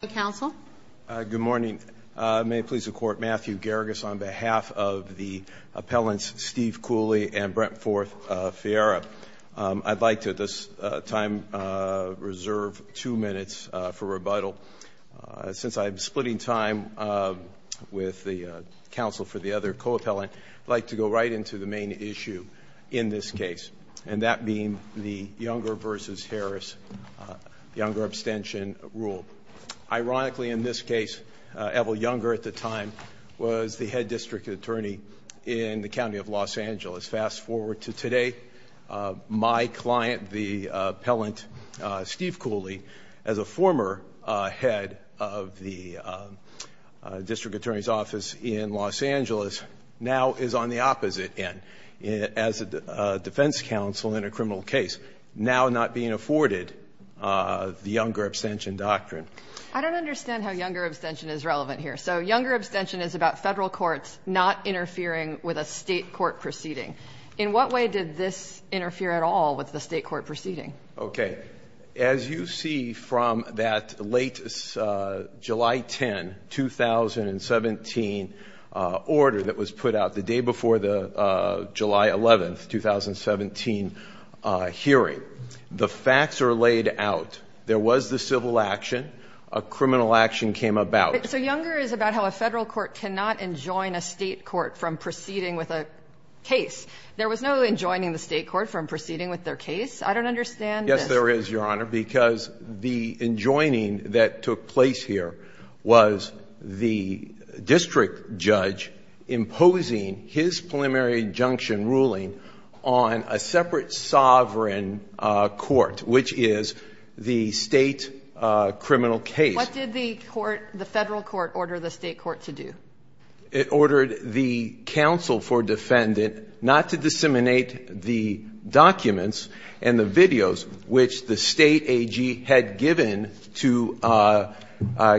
Good morning. May it please the Court, Matthew Geragas on behalf of the appellants Steve Cooley and Brent Forth Fiera. I'd like to at this time reserve two minutes for rebuttal. Since I'm splitting time with the counsel for the other co-appellant, I'd like to go right into the main issue in this case and that being the Younger v. Harris Younger abstention rule. Ironically in this case Evelyn Younger at the time was the head district attorney in the County of Los Angeles. Fast forward to today, my client the appellant Steve Cooley as a former head of the district attorney's office in Los Angeles now is on the opposite end as a defense counsel in a criminal case now not being afforded the Younger abstention doctrine. I don't understand how Younger abstention is relevant here. So Younger abstention is about federal courts not interfering with a state court proceeding. In what way did this interfere at all with the state court proceeding? Okay, as you see from that late July 10, 2017 order that was put out the day before the July 11, 2017 hearing, the facts are laid out. There was the civil action. A criminal action came about. So Younger is about how a federal court cannot enjoin a state court from proceeding with a case. There was no enjoining the state court from proceeding with their case? I don't understand. Yes there is, Your Honor, because the enjoining that took place here was the district judge imposing his preliminary injunction ruling on a separate sovereign court, which is the state criminal case. What did the court, the federal court order the state court to do? It ordered the counsel for defendant not to disseminate the documents and the videos which the state AG had given to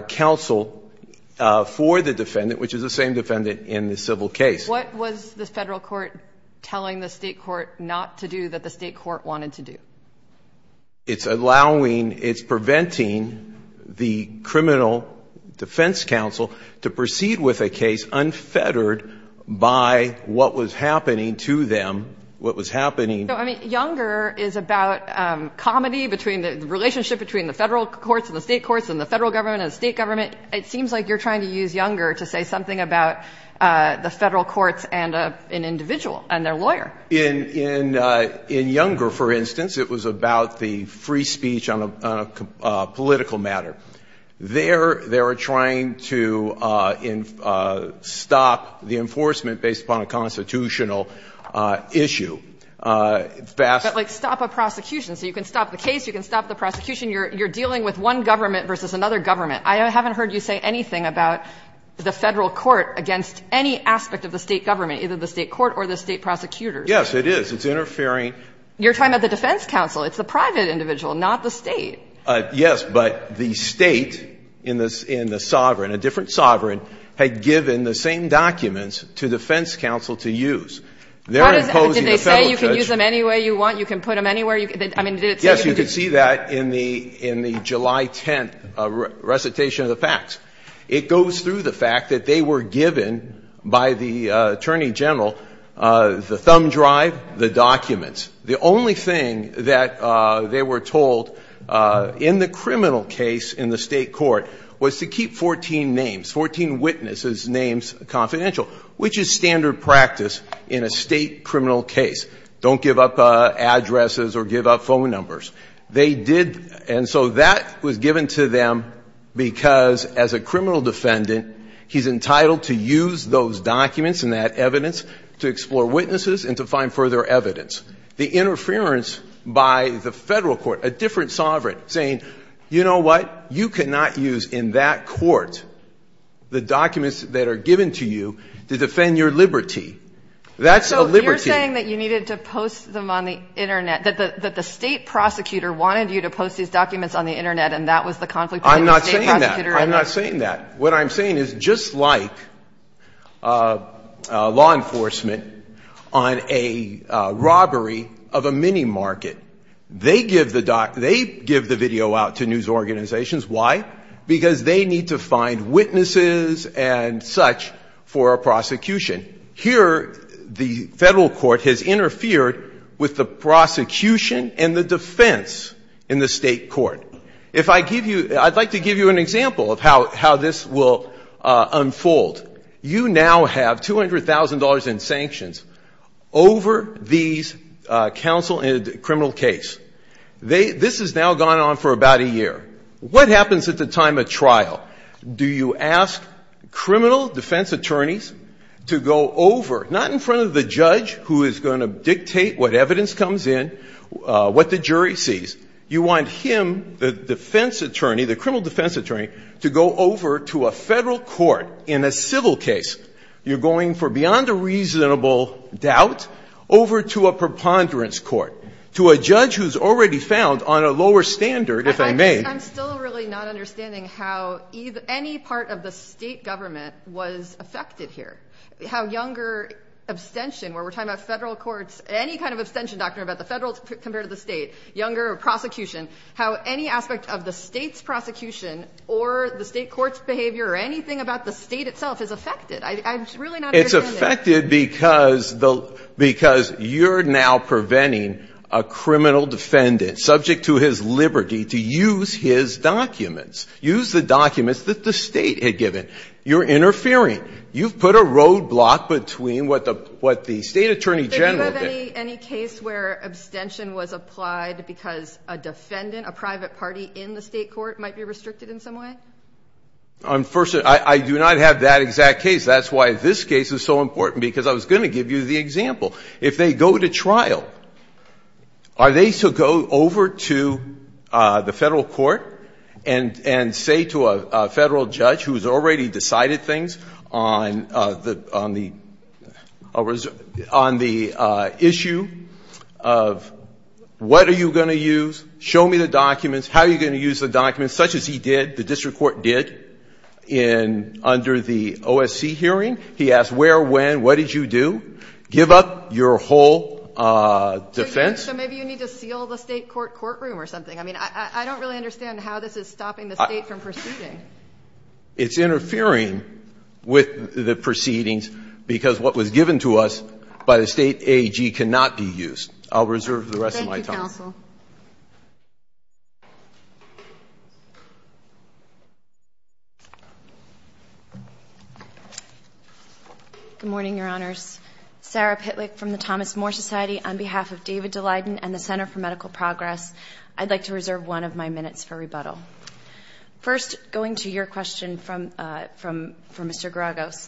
counsel for the defendant, which is the same defendant in the civil case. What was the federal court telling the state court not to do that the state court wanted to do? It's allowing, it's preventing the criminal defense counsel to proceed with a case unfettered by what was happening to them, what was happening. I mean, Younger is about comedy between the relationship between the federal courts and the state courts and the federal government and the state government. It seems like you're trying to use Younger to say something about the federal courts and an individual and their lawyer. In Younger, for instance, it was about the free speech on a political matter. They're trying to stop the enforcement based upon a constitutional issue. Fast. But like stop a prosecution. So you can stop the case, you can stop the prosecution. You're dealing with one government versus another government. I haven't heard you say anything about the federal court against any aspect of the state government, either the state court or the state prosecutors. Yes, it is. It's interfering. You're talking about the defense counsel. It's the private individual, not the state. Yes, but the state in the sovereign, a different sovereign, had given the same documents to defense counsel to use. They're imposing the federal judge. Did they say you can use them any way you want, you can put them anywhere? I mean, did it say you could use them? Yes, you could see that in the July 10th recitation of the facts. It goes through the fact that they were given by the attorney general the thumb drive, the documents. The only thing that they were told in the criminal case in the state court was to keep 14 names, 14 witnesses' names confidential, which is standard practice in a state criminal case. Don't give up addresses or give up phone numbers. They did, and so that was given to them because as a criminal defendant, he's entitled to use those documents and that evidence to explore witnesses and to find further evidence. The interference by the federal court, a different sovereign, saying, you know what? You cannot use in that court the documents that are given to you to defend your liberty. That's a liberty. So you're saying that you needed to post them on the Internet, that the state prosecutor wanted you to post these documents on the Internet and that was the conflict between the state prosecutor and the state prosecutor? I'm not saying that. What I'm saying is just like law enforcement on a robbery of a mini-market. They give the documents, they give the video out to news organizations. Why? Because they need to find witnesses and such for a prosecution. Here, the federal court has interfered with the prosecution and the defense in the state court. If I give you – I'd like to give you an example of how this will unfold. You now have $200,000 in sanctions over these counsel in a criminal case. They – this has now gone on for about a year. What happens at the time of trial? Do you ask criminal defense attorneys to go over, not in front of the judge who is going to dictate what evidence comes in, what the jury sees. You want him, the defense attorney, the criminal defense attorney, to go over to a federal court in a civil case. You're going for beyond a reasonable doubt over to a preponderance court, to a judge who's already found on a lower standard, if I may. I'm still really not understanding how any part of the State government was affected here. How younger abstention, where we're talking about Federal courts, any kind of abstention doctrine about the Federal compared to the State, younger prosecution, how any aspect of the State's prosecution or the State court's behavior or anything about the State itself is affected. I'm really not understanding it. It's affected because the – because you're now preventing a criminal defendant subject to his liberty to use his documents, use the documents that the State had given. You're interfering. You've put a roadblock between what the State attorney general did. Do you have any case where abstention was applied because a defendant, a private party in the State court, might be restricted in some way? First, I do not have that exact case. That's why this case is so important, because I was going to give you the example. If they go to trial, are they to go over to the Federal court and say to a Federal judge who's already decided things on the issue of what are you going to use, show me the documents, how are you going to use the documents, such as he did, the district court did, in – under the OSC hearing. He asked where, when, what did you do. Give up your whole defense. So maybe you need to seal the State court courtroom or something. I mean, I don't really understand how this is stopping the State from proceeding. It's interfering with the proceedings because what was given to us by the State AG cannot be used. I'll reserve the rest of my time. Thank you, counsel. Good morning, Your Honors. Sarah Pitlick from the Thomas More Society. On behalf of David DeLayden and the Center for Medical Progress, I'd like to reserve one of my minutes for rebuttal. First, going to your question from Mr. Garagos,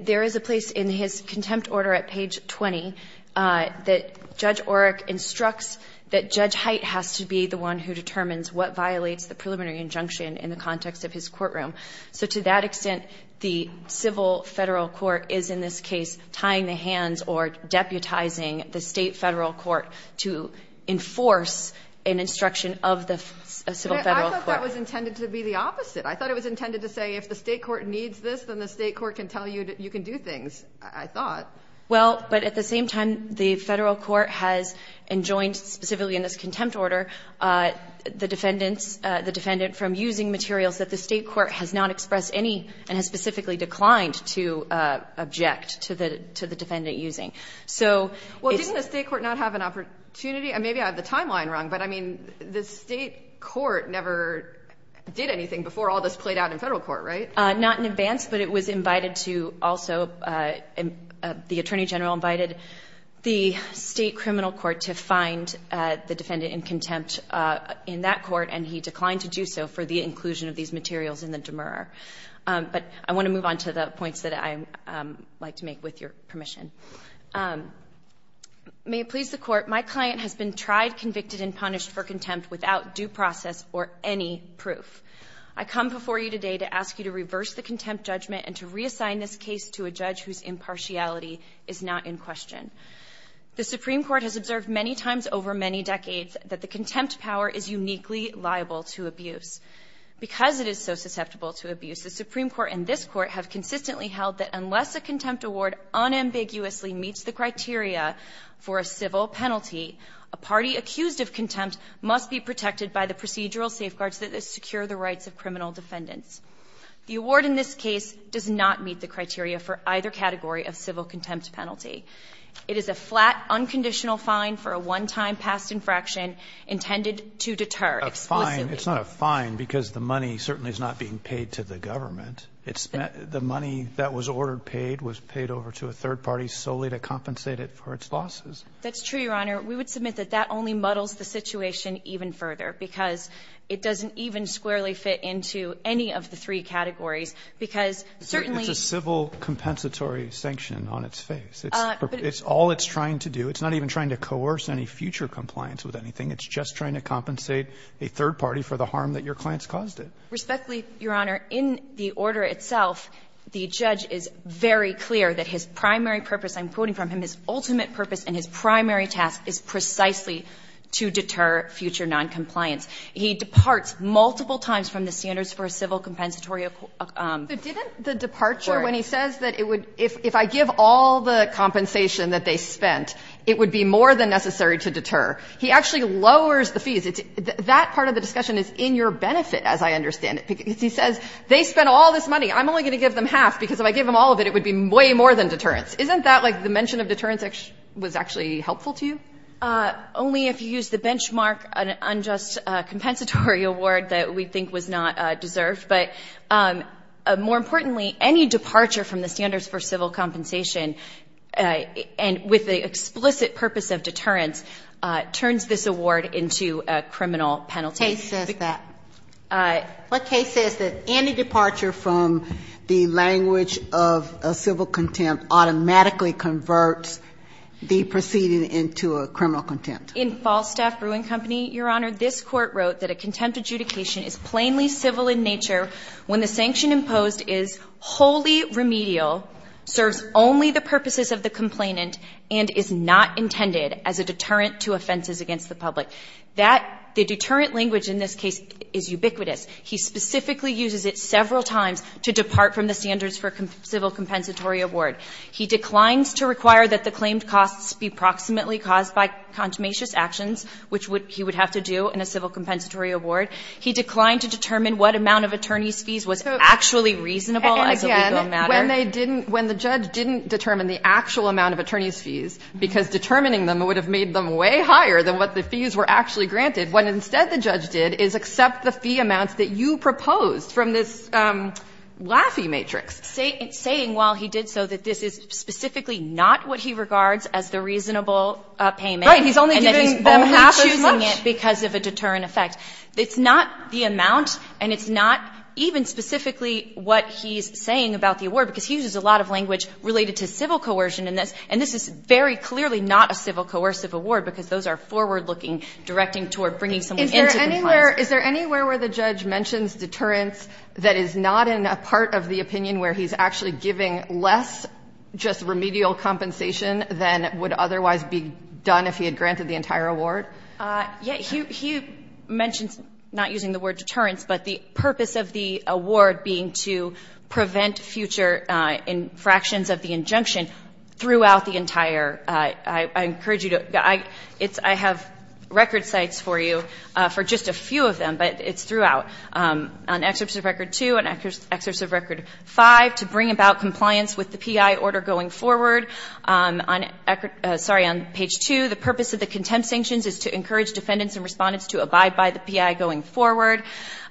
there is a place in his contempt order at page 20 that Judge Oreck instructs that Judge Height has to be the one who determines what violates the preliminary injunction in the context of his courtroom. So to that extent, the civil Federal court is, in this case, tying the hands or deputizing the State Federal court to enforce an instruction of the civil Federal court. I thought that was intended to be the opposite. I thought it was intended to say if the State court needs this, then the State court can tell you that you can do things, I thought. Well, but at the same time, the Federal court has enjoined, specifically in this contempt order, the defendant from using materials that the State court has not expressed any and has specifically declined to object to the defendant using. Well, didn't the State court not have an opportunity? Maybe I have the timeline wrong, but I mean, the State court never did anything before all this played out in Federal court, right? Not in advance, but it was invited to also, the Attorney General invited the State criminal court to find the defendant in contempt in that court, and he declined to do so for the inclusion of these materials in the demer. But I want to move on to the points that I like to make with your permission. May it please the court, my client has been tried, convicted, and punished for contempt without due process or any proof. I come before you today to ask you to reverse the contempt judgment and to reassign this case to a judge whose impartiality is not in question. The Supreme Court has observed many times over many decades that the contempt power is uniquely liable to abuse. Because it is so susceptible to abuse, the Supreme Court and this Court have consistently held that unless a contempt award unambiguously meets the criteria for a civil penalty, a party accused of contempt must be protected by the procedural safeguards that secure the rights of criminal defendants. The award in this case does not meet the criteria for either category of civil contempt penalty. It is a flat, unconditional fine for a one-time past infraction intended to deter. It's not a fine because the money certainly is not being paid to the government. It's the money that was ordered paid was paid over to a third party solely to compensate it for its losses. That's true, Your Honor. We would submit that that only muddles the situation even further because it doesn't even squarely fit into any of the three categories because certainly. It's a civil compensatory sanction on its face. It's all it's trying to do. It's not even trying to coerce any future compliance with anything. It's just trying to compensate a third party for the harm that your client's caused it. Respectfully, Your Honor, in the order itself, the judge is very clear that his primary purpose, I'm quoting from him, his ultimate purpose and his primary task is precisely to deter future noncompliance. He departs multiple times from the standards for a civil compensatory. But didn't the departure when he says that it would, if I give all the compensation that they spent, it would be more than necessary to deter. He actually lowers the fees. That part of the discussion is in your benefit, as I understand it. He says they spent all this money. I'm only going to give them half because if I give them all of it, it would be way more than deterrence. Isn't that like the mention of deterrence was actually helpful to you? Only if you use the benchmark unjust compensatory award that we think was not deserved. But more importantly, any departure from the standards for civil compensation and with the explicit purpose of deterrence turns this award into a criminal penalty. Case says that. What case says that any departure from the language of a civil contempt automatically converts the proceeding into a criminal contempt? In Falstaff Brewing Company, Your Honor, this court wrote that a contempt adjudication is plainly civil in nature when the sanction imposed is wholly remedial, serves only the purposes of the complainant, and is not intended as a deterrent to offenses against the public. That the deterrent language in this case is ubiquitous. He specifically uses it several times to depart from the standards for civil compensatory award. He declines to require that the claimed costs be proximately caused by contumacious actions, which he would have to do in a civil compensatory award. He declined to determine what amount of attorney's fees was actually reasonable as a legal matter. When they didn't, when the judge didn't determine the actual amount of attorney's fees, because determining them would have made them way higher than what the fees were actually granted, when instead the judge did is accept the fee amounts that you proposed from this Laffey matrix. Saying while he did so that this is specifically not what he regards as the reasonable payment. He's only giving them half as much. And then he's only choosing it because of a deterrent effect. It's not the amount and it's not even specifically what he's saying about the award because he uses a lot of language related to civil coercion in this. And this is very clearly not a civil coercive award because those are forward looking directing toward bringing someone into compliance. Is there anywhere where the judge mentions deterrence that is not in a part of the opinion where he's actually giving less just remedial compensation than would otherwise be done if he had granted the entire award? Yeah, he mentions not using the word deterrence, but the purpose of the award being to prevent future infractions of the injunction throughout the entire. I encourage you to, it's, I have record sites for you for just a few of them, but it's throughout. On excerpts of record two and excerpts of record five, to bring about compliance with the PI order going forward. On, sorry, on page two, the purpose of the contempt sanctions is to encourage defendants and respondents to abide by the PI going forward.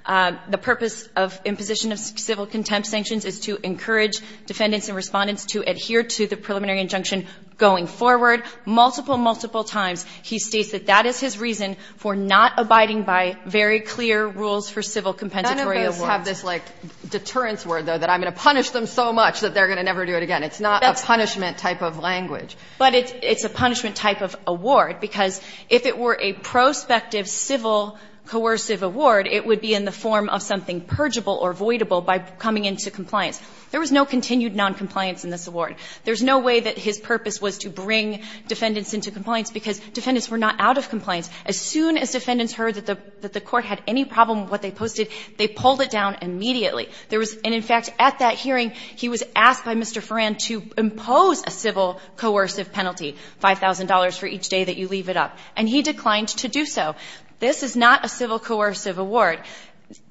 The purpose of imposition of civil contempt sanctions is to encourage defendants and respondents to adhere to the preliminary injunction going forward multiple, multiple times. He states that that is his reason for not abiding by very clear rules for civil compensatory awards. None of those have this like deterrence word though that I'm going to punish them so much that they're going to never do it again. It's not a punishment type of language. But it's a punishment type of award because if it were a prospective civil coercive award, it would be in the form of something purgeable or voidable by coming into compliance. There was no continued noncompliance in this award. There's no way that his purpose was to bring defendants into compliance because defendants were not out of compliance. As soon as defendants heard that the Court had any problem with what they posted, they pulled it down immediately. There was, and in fact, at that hearing, he was asked by Mr. Farran to impose a civil coercive penalty, $5,000 for each day that you leave it up, and he declined to do so. This is not a civil coercive award.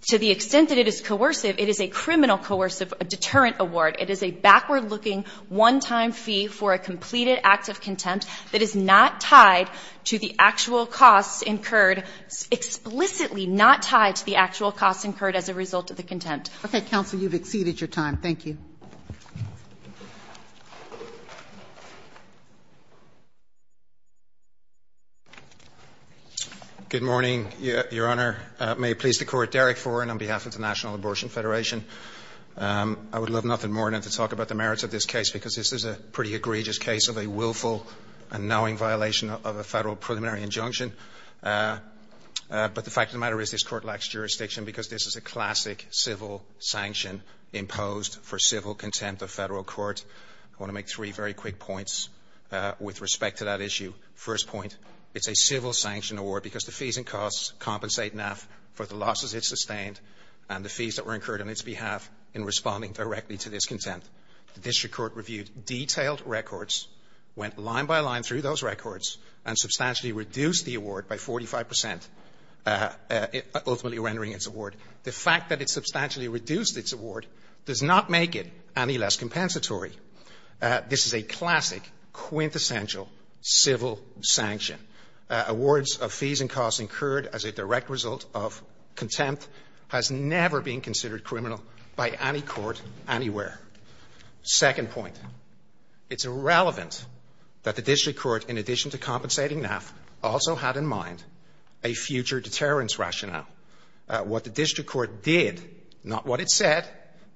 To the extent that it is coercive, it is a criminal coercive deterrent award. It is a backward-looking one-time fee for a completed act of contempt that is not tied to the actual costs incurred, explicitly not tied to the actual costs incurred as a result of the contempt. Okay, counsel, you've exceeded your time. Thank you. Good morning, Your Honor. May it please the Court, Derek Farran on behalf of the National Abortion Federation. I would love nothing more than to talk about the merits of this case because this is a pretty egregious case of a willful and knowing violation of a Federal preliminary injunction. But the fact of the matter is this Court lacks jurisdiction because this is a classic civil sanction imposed for civil contempt of Federal court. I want to make three very quick points with respect to that issue. First point, it's a civil sanction award because the fees and costs compensate NAF for the losses it sustained and the fees that were incurred on its behalf in responding directly to this contempt. The district court reviewed detailed records, went line by line through those records, and substantially reduced the award by 45 percent, ultimately rendering its award. The fact that it substantially reduced its award does not make it any less compensatory. This is a classic quintessential civil sanction. Awards of fees and costs incurred as a direct result of contempt has never been considered criminal by any court anywhere. Second point, it's irrelevant that the district court, in addition to compensating NAF, also had in mind a future deterrence rationale. What the district court did, not what it said,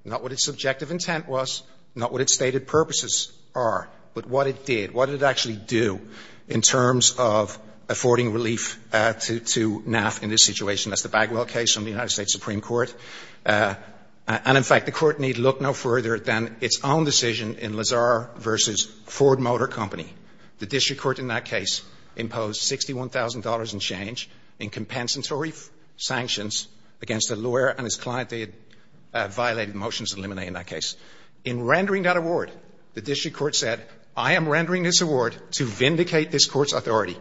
not what its subjective intent was, not what its stated purposes are, but what it did, what did it actually do in terms of affording relief to NAF in this situation. That's the Bagwell case from the United States Supreme Court. And, in fact, the Court need look no further than its own decision in Lazar versus Ford Motor Company. The district court in that case imposed $61,000 and change in compensatory sanctions against the lawyer and his client. They had violated the motions to eliminate in that case. In rendering that award, the district court said, I am rendering this award to vindicate this court's authority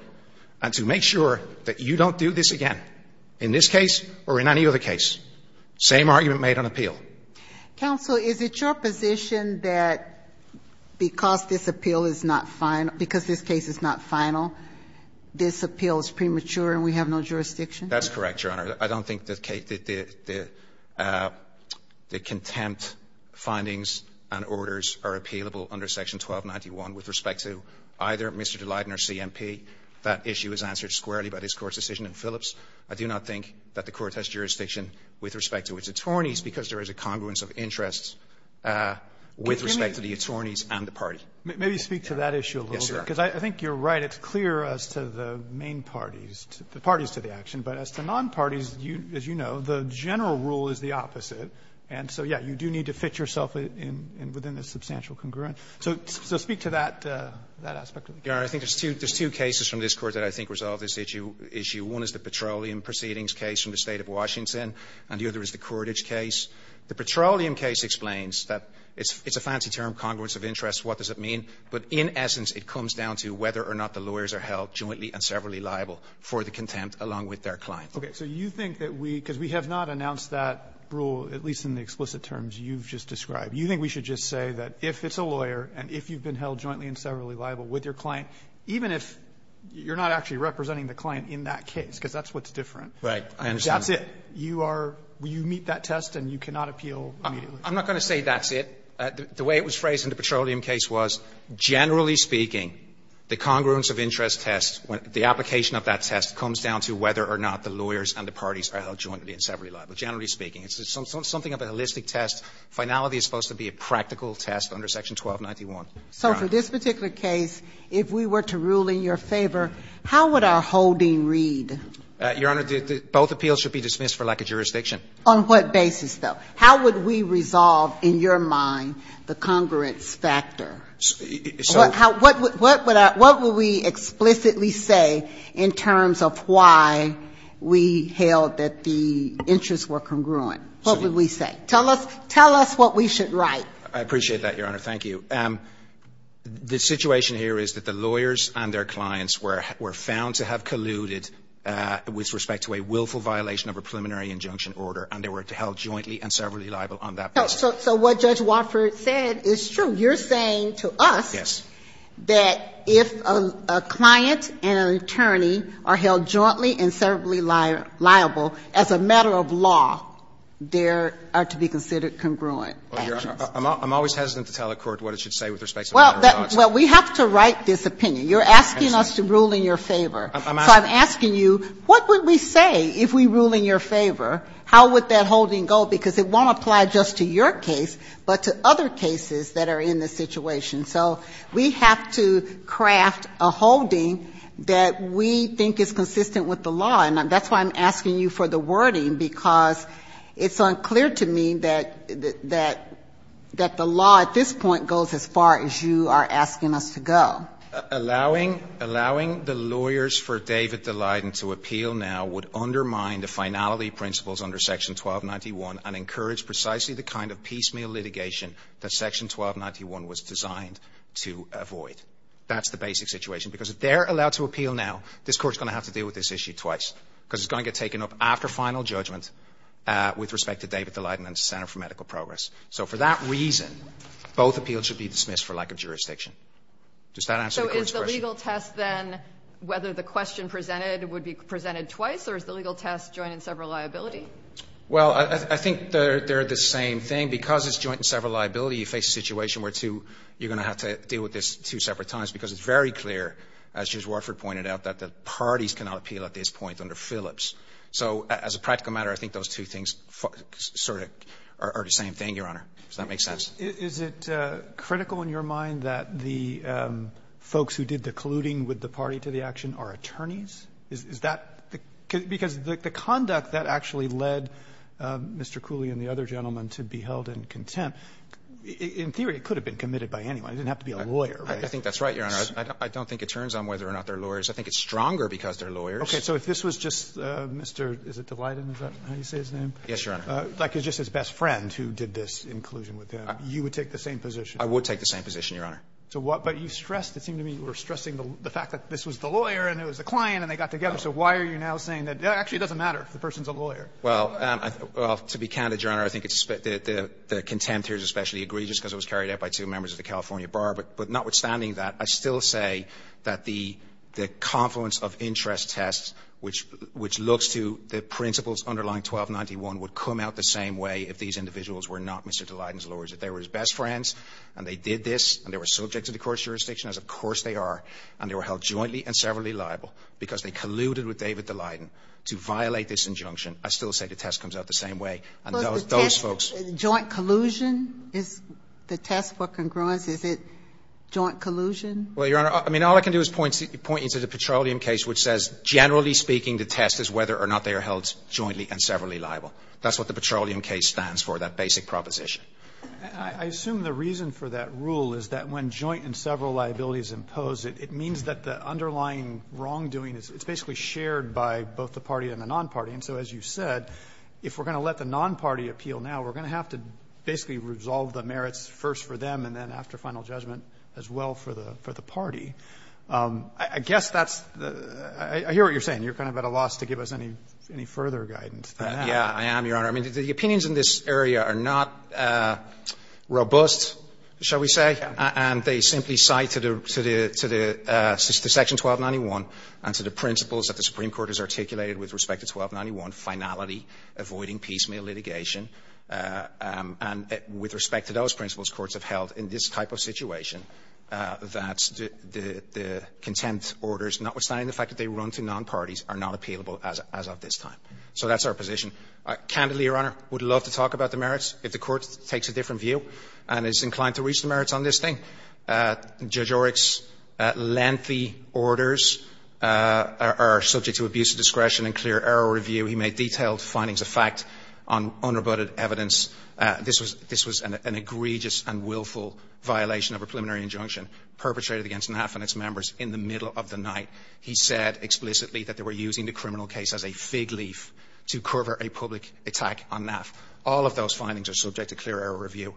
and to make sure that you don't do this again in this case or in any other case. Same argument made on appeal. Counsel, is it your position that because this appeal is not final, because this case is not final, this appeal is premature and we have no jurisdiction? That's correct, Your Honor. I don't think that the contempt findings and orders are appealable under section 1291 with respect to either Mr. De Leyden or CMP. That issue is answered squarely by this Court's decision in Phillips. I do not think that the Court has jurisdiction with respect to its attorneys because there is a congruence of interests with respect to the attorneys and the Maybe speak to that issue a little bit. Yes, Your Honor. Because I think you're right. It's clear as to the main parties, the parties to the action. But as to nonparties, as you know, the general rule is the opposite. And so, yes, you do need to fit yourself within the substantial congruence. So speak to that aspect of the case. Your Honor, I think there's two cases from this Court that I think resolve this issue. One is the Petroleum Proceedings case from the State of Washington, and the other is the Cordage case. The Petroleum case explains that it's a fancy term, congruence of interests. What does it mean? But in essence, it comes down to whether or not the lawyers are held jointly and severally liable for the contempt along with their client. Okay. So you think that we, because we have not announced that rule, at least in the explicit terms you've just described, you think we should just say that if it's a lawyer and if you've been held jointly and severally liable with your client, even if you're not actually representing the client in that case, because that's what's different. Right. I understand. That's it. You are you meet that test and you cannot appeal immediately. I'm not going to say that's it. The way it was phrased in the Petroleum case was, generally speaking, the congruence of interest test, the application of that test comes down to whether or not the lawyers and the parties are held jointly and severally liable, generally speaking. It's something of a holistic test. Finality is supposed to be a practical test under Section 1291. So for this particular case, if we were to rule in your favor, how would our holding read? Your Honor, both appeals should be dismissed for lack of jurisdiction. On what basis, though? How would we resolve, in your mind, the congruence factor? What would we explicitly say in terms of why we held that the interests were congruent? What would we say? Tell us what we should write. I appreciate that, Your Honor. Thank you. The situation here is that the lawyers and their clients were found to have colluded with respect to a willful violation of a preliminary injunction order and they were found to have held jointly and severally liable on that basis. So what Judge Wofford said is true. You're saying to us that if a client and an attorney are held jointly and severally liable, as a matter of law, there are to be considered congruent actions. I'm always hesitant to tell a court what it should say with respect to a matter of law. Well, we have to write this opinion. You're asking us to rule in your favor. So I'm asking you, what would we say if we rule in your favor? How would that holding go? Because it won't apply just to your case, but to other cases that are in this situation. So we have to craft a holding that we think is consistent with the law. And that's why I'm asking you for the wording, because it's unclear to me that the law at this point goes as far as you are asking us to go. Allowing the lawyers for David Daleiden to appeal now would undermine the finality principles under Section 1291 and encourage precisely the kind of piecemeal litigation that Section 1291 was designed to avoid. That's the basic situation. Because if they're allowed to appeal now, this Court is going to have to deal with this issue twice, because it's going to get taken up after final judgment with respect to David Daleiden and the Center for Medical Progress. So for that reason, both appeals should be dismissed for lack of jurisdiction. Does that answer the Court's question? So is the legal test then whether the question presented would be presented twice, or is the legal test joint and several liability? Well, I think they're the same thing. Because it's joint and several liability, you face a situation where you're going to have to deal with this two separate times, because it's very clear, as Judge Warford pointed out, that the parties cannot appeal at this point under Phillips. So as a practical matter, I think those two things sort of are the same thing, Your Honor, if that makes sense. Is it critical in your mind that the folks who did the colluding with the party to the action are attorneys? Is that the – because the conduct that actually led Mr. Cooley and the other gentleman to be held in contempt, in theory, it could have been committed by anyone. It didn't have to be a lawyer, right? I think that's right, Your Honor. I don't think it turns on whether or not they're lawyers. I think it's stronger because they're lawyers. Okay. So if this was just Mr. – is it Daleiden? Is that how you say his name? Yes, Your Honor. Like just his best friend who did this in collusion with him, you would take the same position? I would take the same position, Your Honor. So what – but you stressed, it seemed to me, you were stressing the fact that this was the lawyer and it was the client and they got together. So why are you now saying that it actually doesn't matter if the person's a lawyer? Well, to be candid, Your Honor, I think it's – the contempt here is especially egregious because it was carried out by two members of the California Bar. But notwithstanding that, I still say that the confluence of interest tests, which looks to the principles underlying 1291, would come out the same way if these individuals were not Mr. Daleiden's lawyers, that they were his best friends and they did this and they were subject to the court's jurisdiction, as of course they are, and they were held jointly and severally liable because they colluded with David Daleiden to violate this injunction, I still say the test comes out the same way. And those – those folks – Was the test joint collusion? Is the test for congruence, is it joint collusion? Well, Your Honor, I mean, all I can do is point you to the Petroleum case, which says, generally speaking, the test is whether or not they are held jointly and severally liable. That's what the Petroleum case stands for, that basic proposition. And I assume the reason for that rule is that when joint and several liabilities impose it, it means that the underlying wrongdoing is – it's basically shared by both the party and the non-party. And so as you said, if we're going to let the non-party appeal now, we're going to have to basically resolve the merits first for them and then after final judgment as well for the party. I guess that's the – I hear what you're saying. You're kind of at a loss to give us any further guidance than that. Yeah, I am, Your Honor. I mean, the opinions in this area are not robust, shall we say, and they simply cite to the – to the section 1291 and to the principles that the Supreme Court has articulated with respect to 1291, finality, avoiding piecemeal litigation. And with respect to those principles, courts have held in this type of situation that the contempt orders, notwithstanding the fact that they run to non-parties, are not appealable as of this time. So that's our position. Candidly, Your Honor, I would love to talk about the merits if the Court takes a different view and is inclined to reach the merits on this thing. Judge Oryk's lengthy orders are subject to abuse of discretion and clear error review. He made detailed findings of fact on unrebutted evidence. This was an egregious and willful violation of a preliminary injunction perpetrated against NAF and its members in the middle of the night. He said explicitly that they were using the criminal case as a fig leaf to cover a public attack on NAF. All of those findings are subject to clear error review.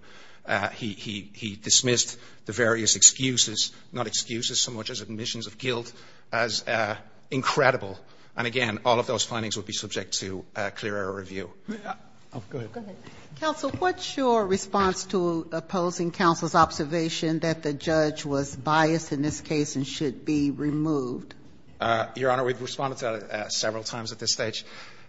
He dismissed the various excuses – not excuses so much as admissions of guilt – as incredible. And again, all of those findings would be subject to clear error review. Go ahead. Go ahead. Counsel, what's your response to opposing counsel's observation that the judge was biased in this case and should be removed? Your Honor, we've responded to that several times at this stage.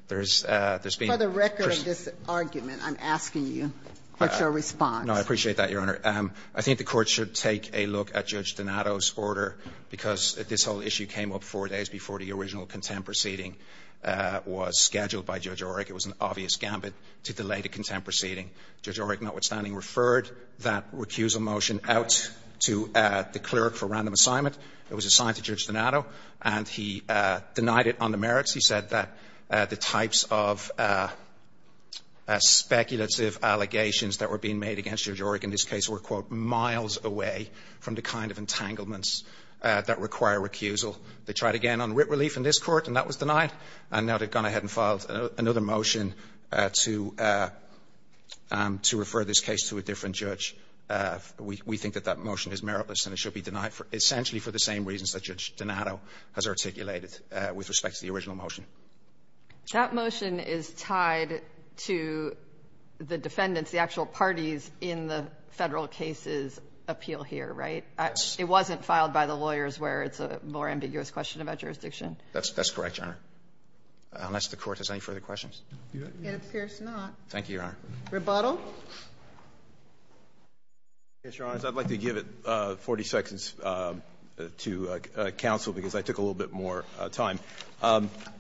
There's been – For the record of this argument, I'm asking you what's your response. No, I appreciate that, Your Honor. I think the Court should take a look at Judge Donato's order, because this whole issue came up four days before the original contempt proceeding was scheduled by Judge Oryk. It was an obvious gambit to delay the contempt proceeding. Judge Oryk, notwithstanding, referred that recusal motion out to the clerk for random assignment. It was assigned to Judge Donato, and he denied it on the merits. He said that the types of speculative allegations that were being made against Judge Oryk in this case were, quote, miles away from the kind of entanglements that require recusal. They tried again on writ relief in this court, and that was denied. And now they've gone ahead and filed another motion to refer this case to a different judge. We think that that motion is meritless, and it should be denied essentially for the same reasons that Judge Donato has articulated with respect to the original motion. That motion is tied to the defendants, the actual parties in the Federal case's appeal here, right? Yes. It wasn't filed by the lawyers where it's a more ambiguous question about jurisdiction? That's correct, Your Honor, unless the Court has any further questions. It appears not. Thank you, Your Honor. Rebuttal? Yes, Your Honors. I'd like to give 40 seconds to counsel, because I took a little bit more time.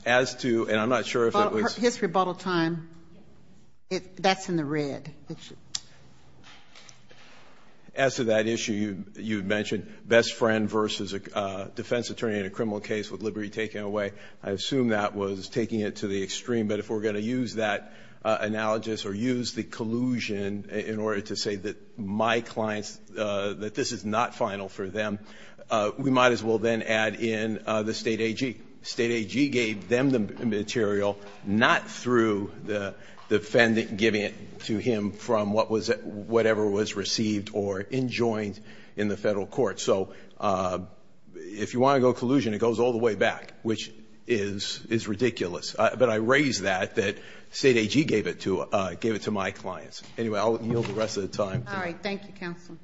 As to, and I'm not sure if it was His rebuttal time, that's in the red. As to that issue you mentioned, best friend versus a defense attorney in a criminal case with liberty taken away, I assume that was taking it to the extreme. But if we're going to use that analogous or use the collusion in order to say that my clients, that this is not final for them, we might as well then add in the State AG. State AG gave them the material, not through the defendant giving it to him from what was, whatever was received or enjoined in the Federal court. So if you want to go collusion, it goes all the way back, which is ridiculous. But I raise that, that State AG gave it to my clients. Anyway, I'll yield the rest of the time. All right. Thank you, counsel.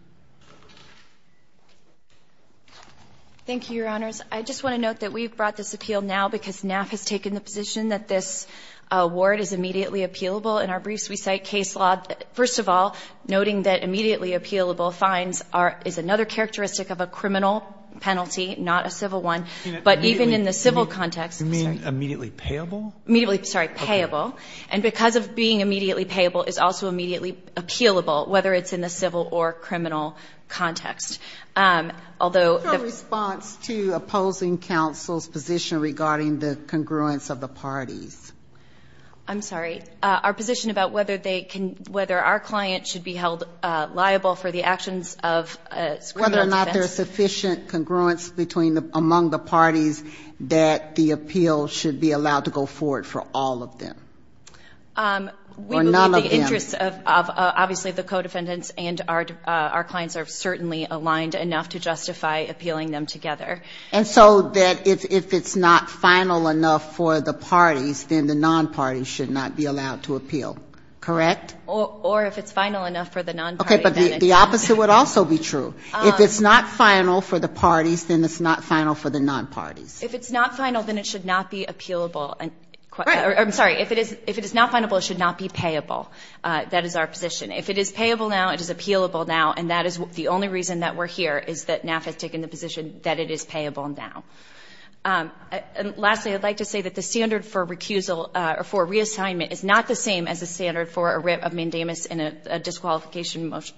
Thank you, Your Honors. I just want to note that we've brought this appeal now because NAF has taken the position that this award is immediately appealable. In our briefs we cite case law, first of all, noting that immediately appealable fines is another characteristic of a criminal penalty, not a civil one. But even in the civil context. You mean immediately payable? Immediately, sorry, payable. And because of being immediately payable is also immediately appealable, whether it's in the civil or criminal context. Although the. What's your response to opposing counsel's position regarding the congruence of the parties? I'm sorry. Our position about whether they can, whether our client should be held liable for the actions of a criminal defense. Whether or not there's sufficient congruence between the, among the parties that the appeal should be allowed to go forward for all of them. Or none of them. We believe the interests of, of, obviously the co-defendants and our, our clients are certainly aligned enough to justify appealing them together. And so that if, if it's not final enough for the parties, then the non-parties should not be allowed to appeal. Correct? Or, or if it's final enough for the non-parties. Okay, but the, the opposite would also be true. If it's not final for the parties, then it's not final for the non-parties. If it's not final, then it should not be appealable. And, or, I'm sorry, if it is, if it is not final, it should not be payable. That is our position. If it is payable now, it is appealable now. And that is the only reason that we're here, is that NAF has taken the position that it is payable now. And lastly, I'd like to say that the standard for recusal, or for reassignment is not the same as the standard for a writ of mandamus in a disqualification motion,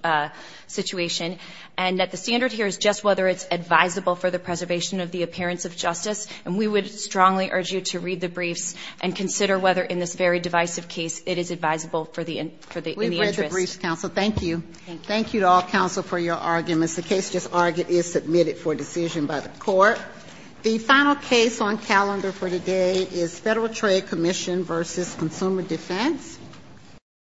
situation. And that the standard here is just whether it's advisable for the preservation of the appearance of justice. And we would strongly urge you to read the briefs and consider whether in this very divisive case it is advisable for the, for the, in the interest. Thank you. And thank you to all counsel for your arguments. The case just argued is submitted for decision by the court. The final case on calendar for today is Federal Trade Commission v. Consumer Defense.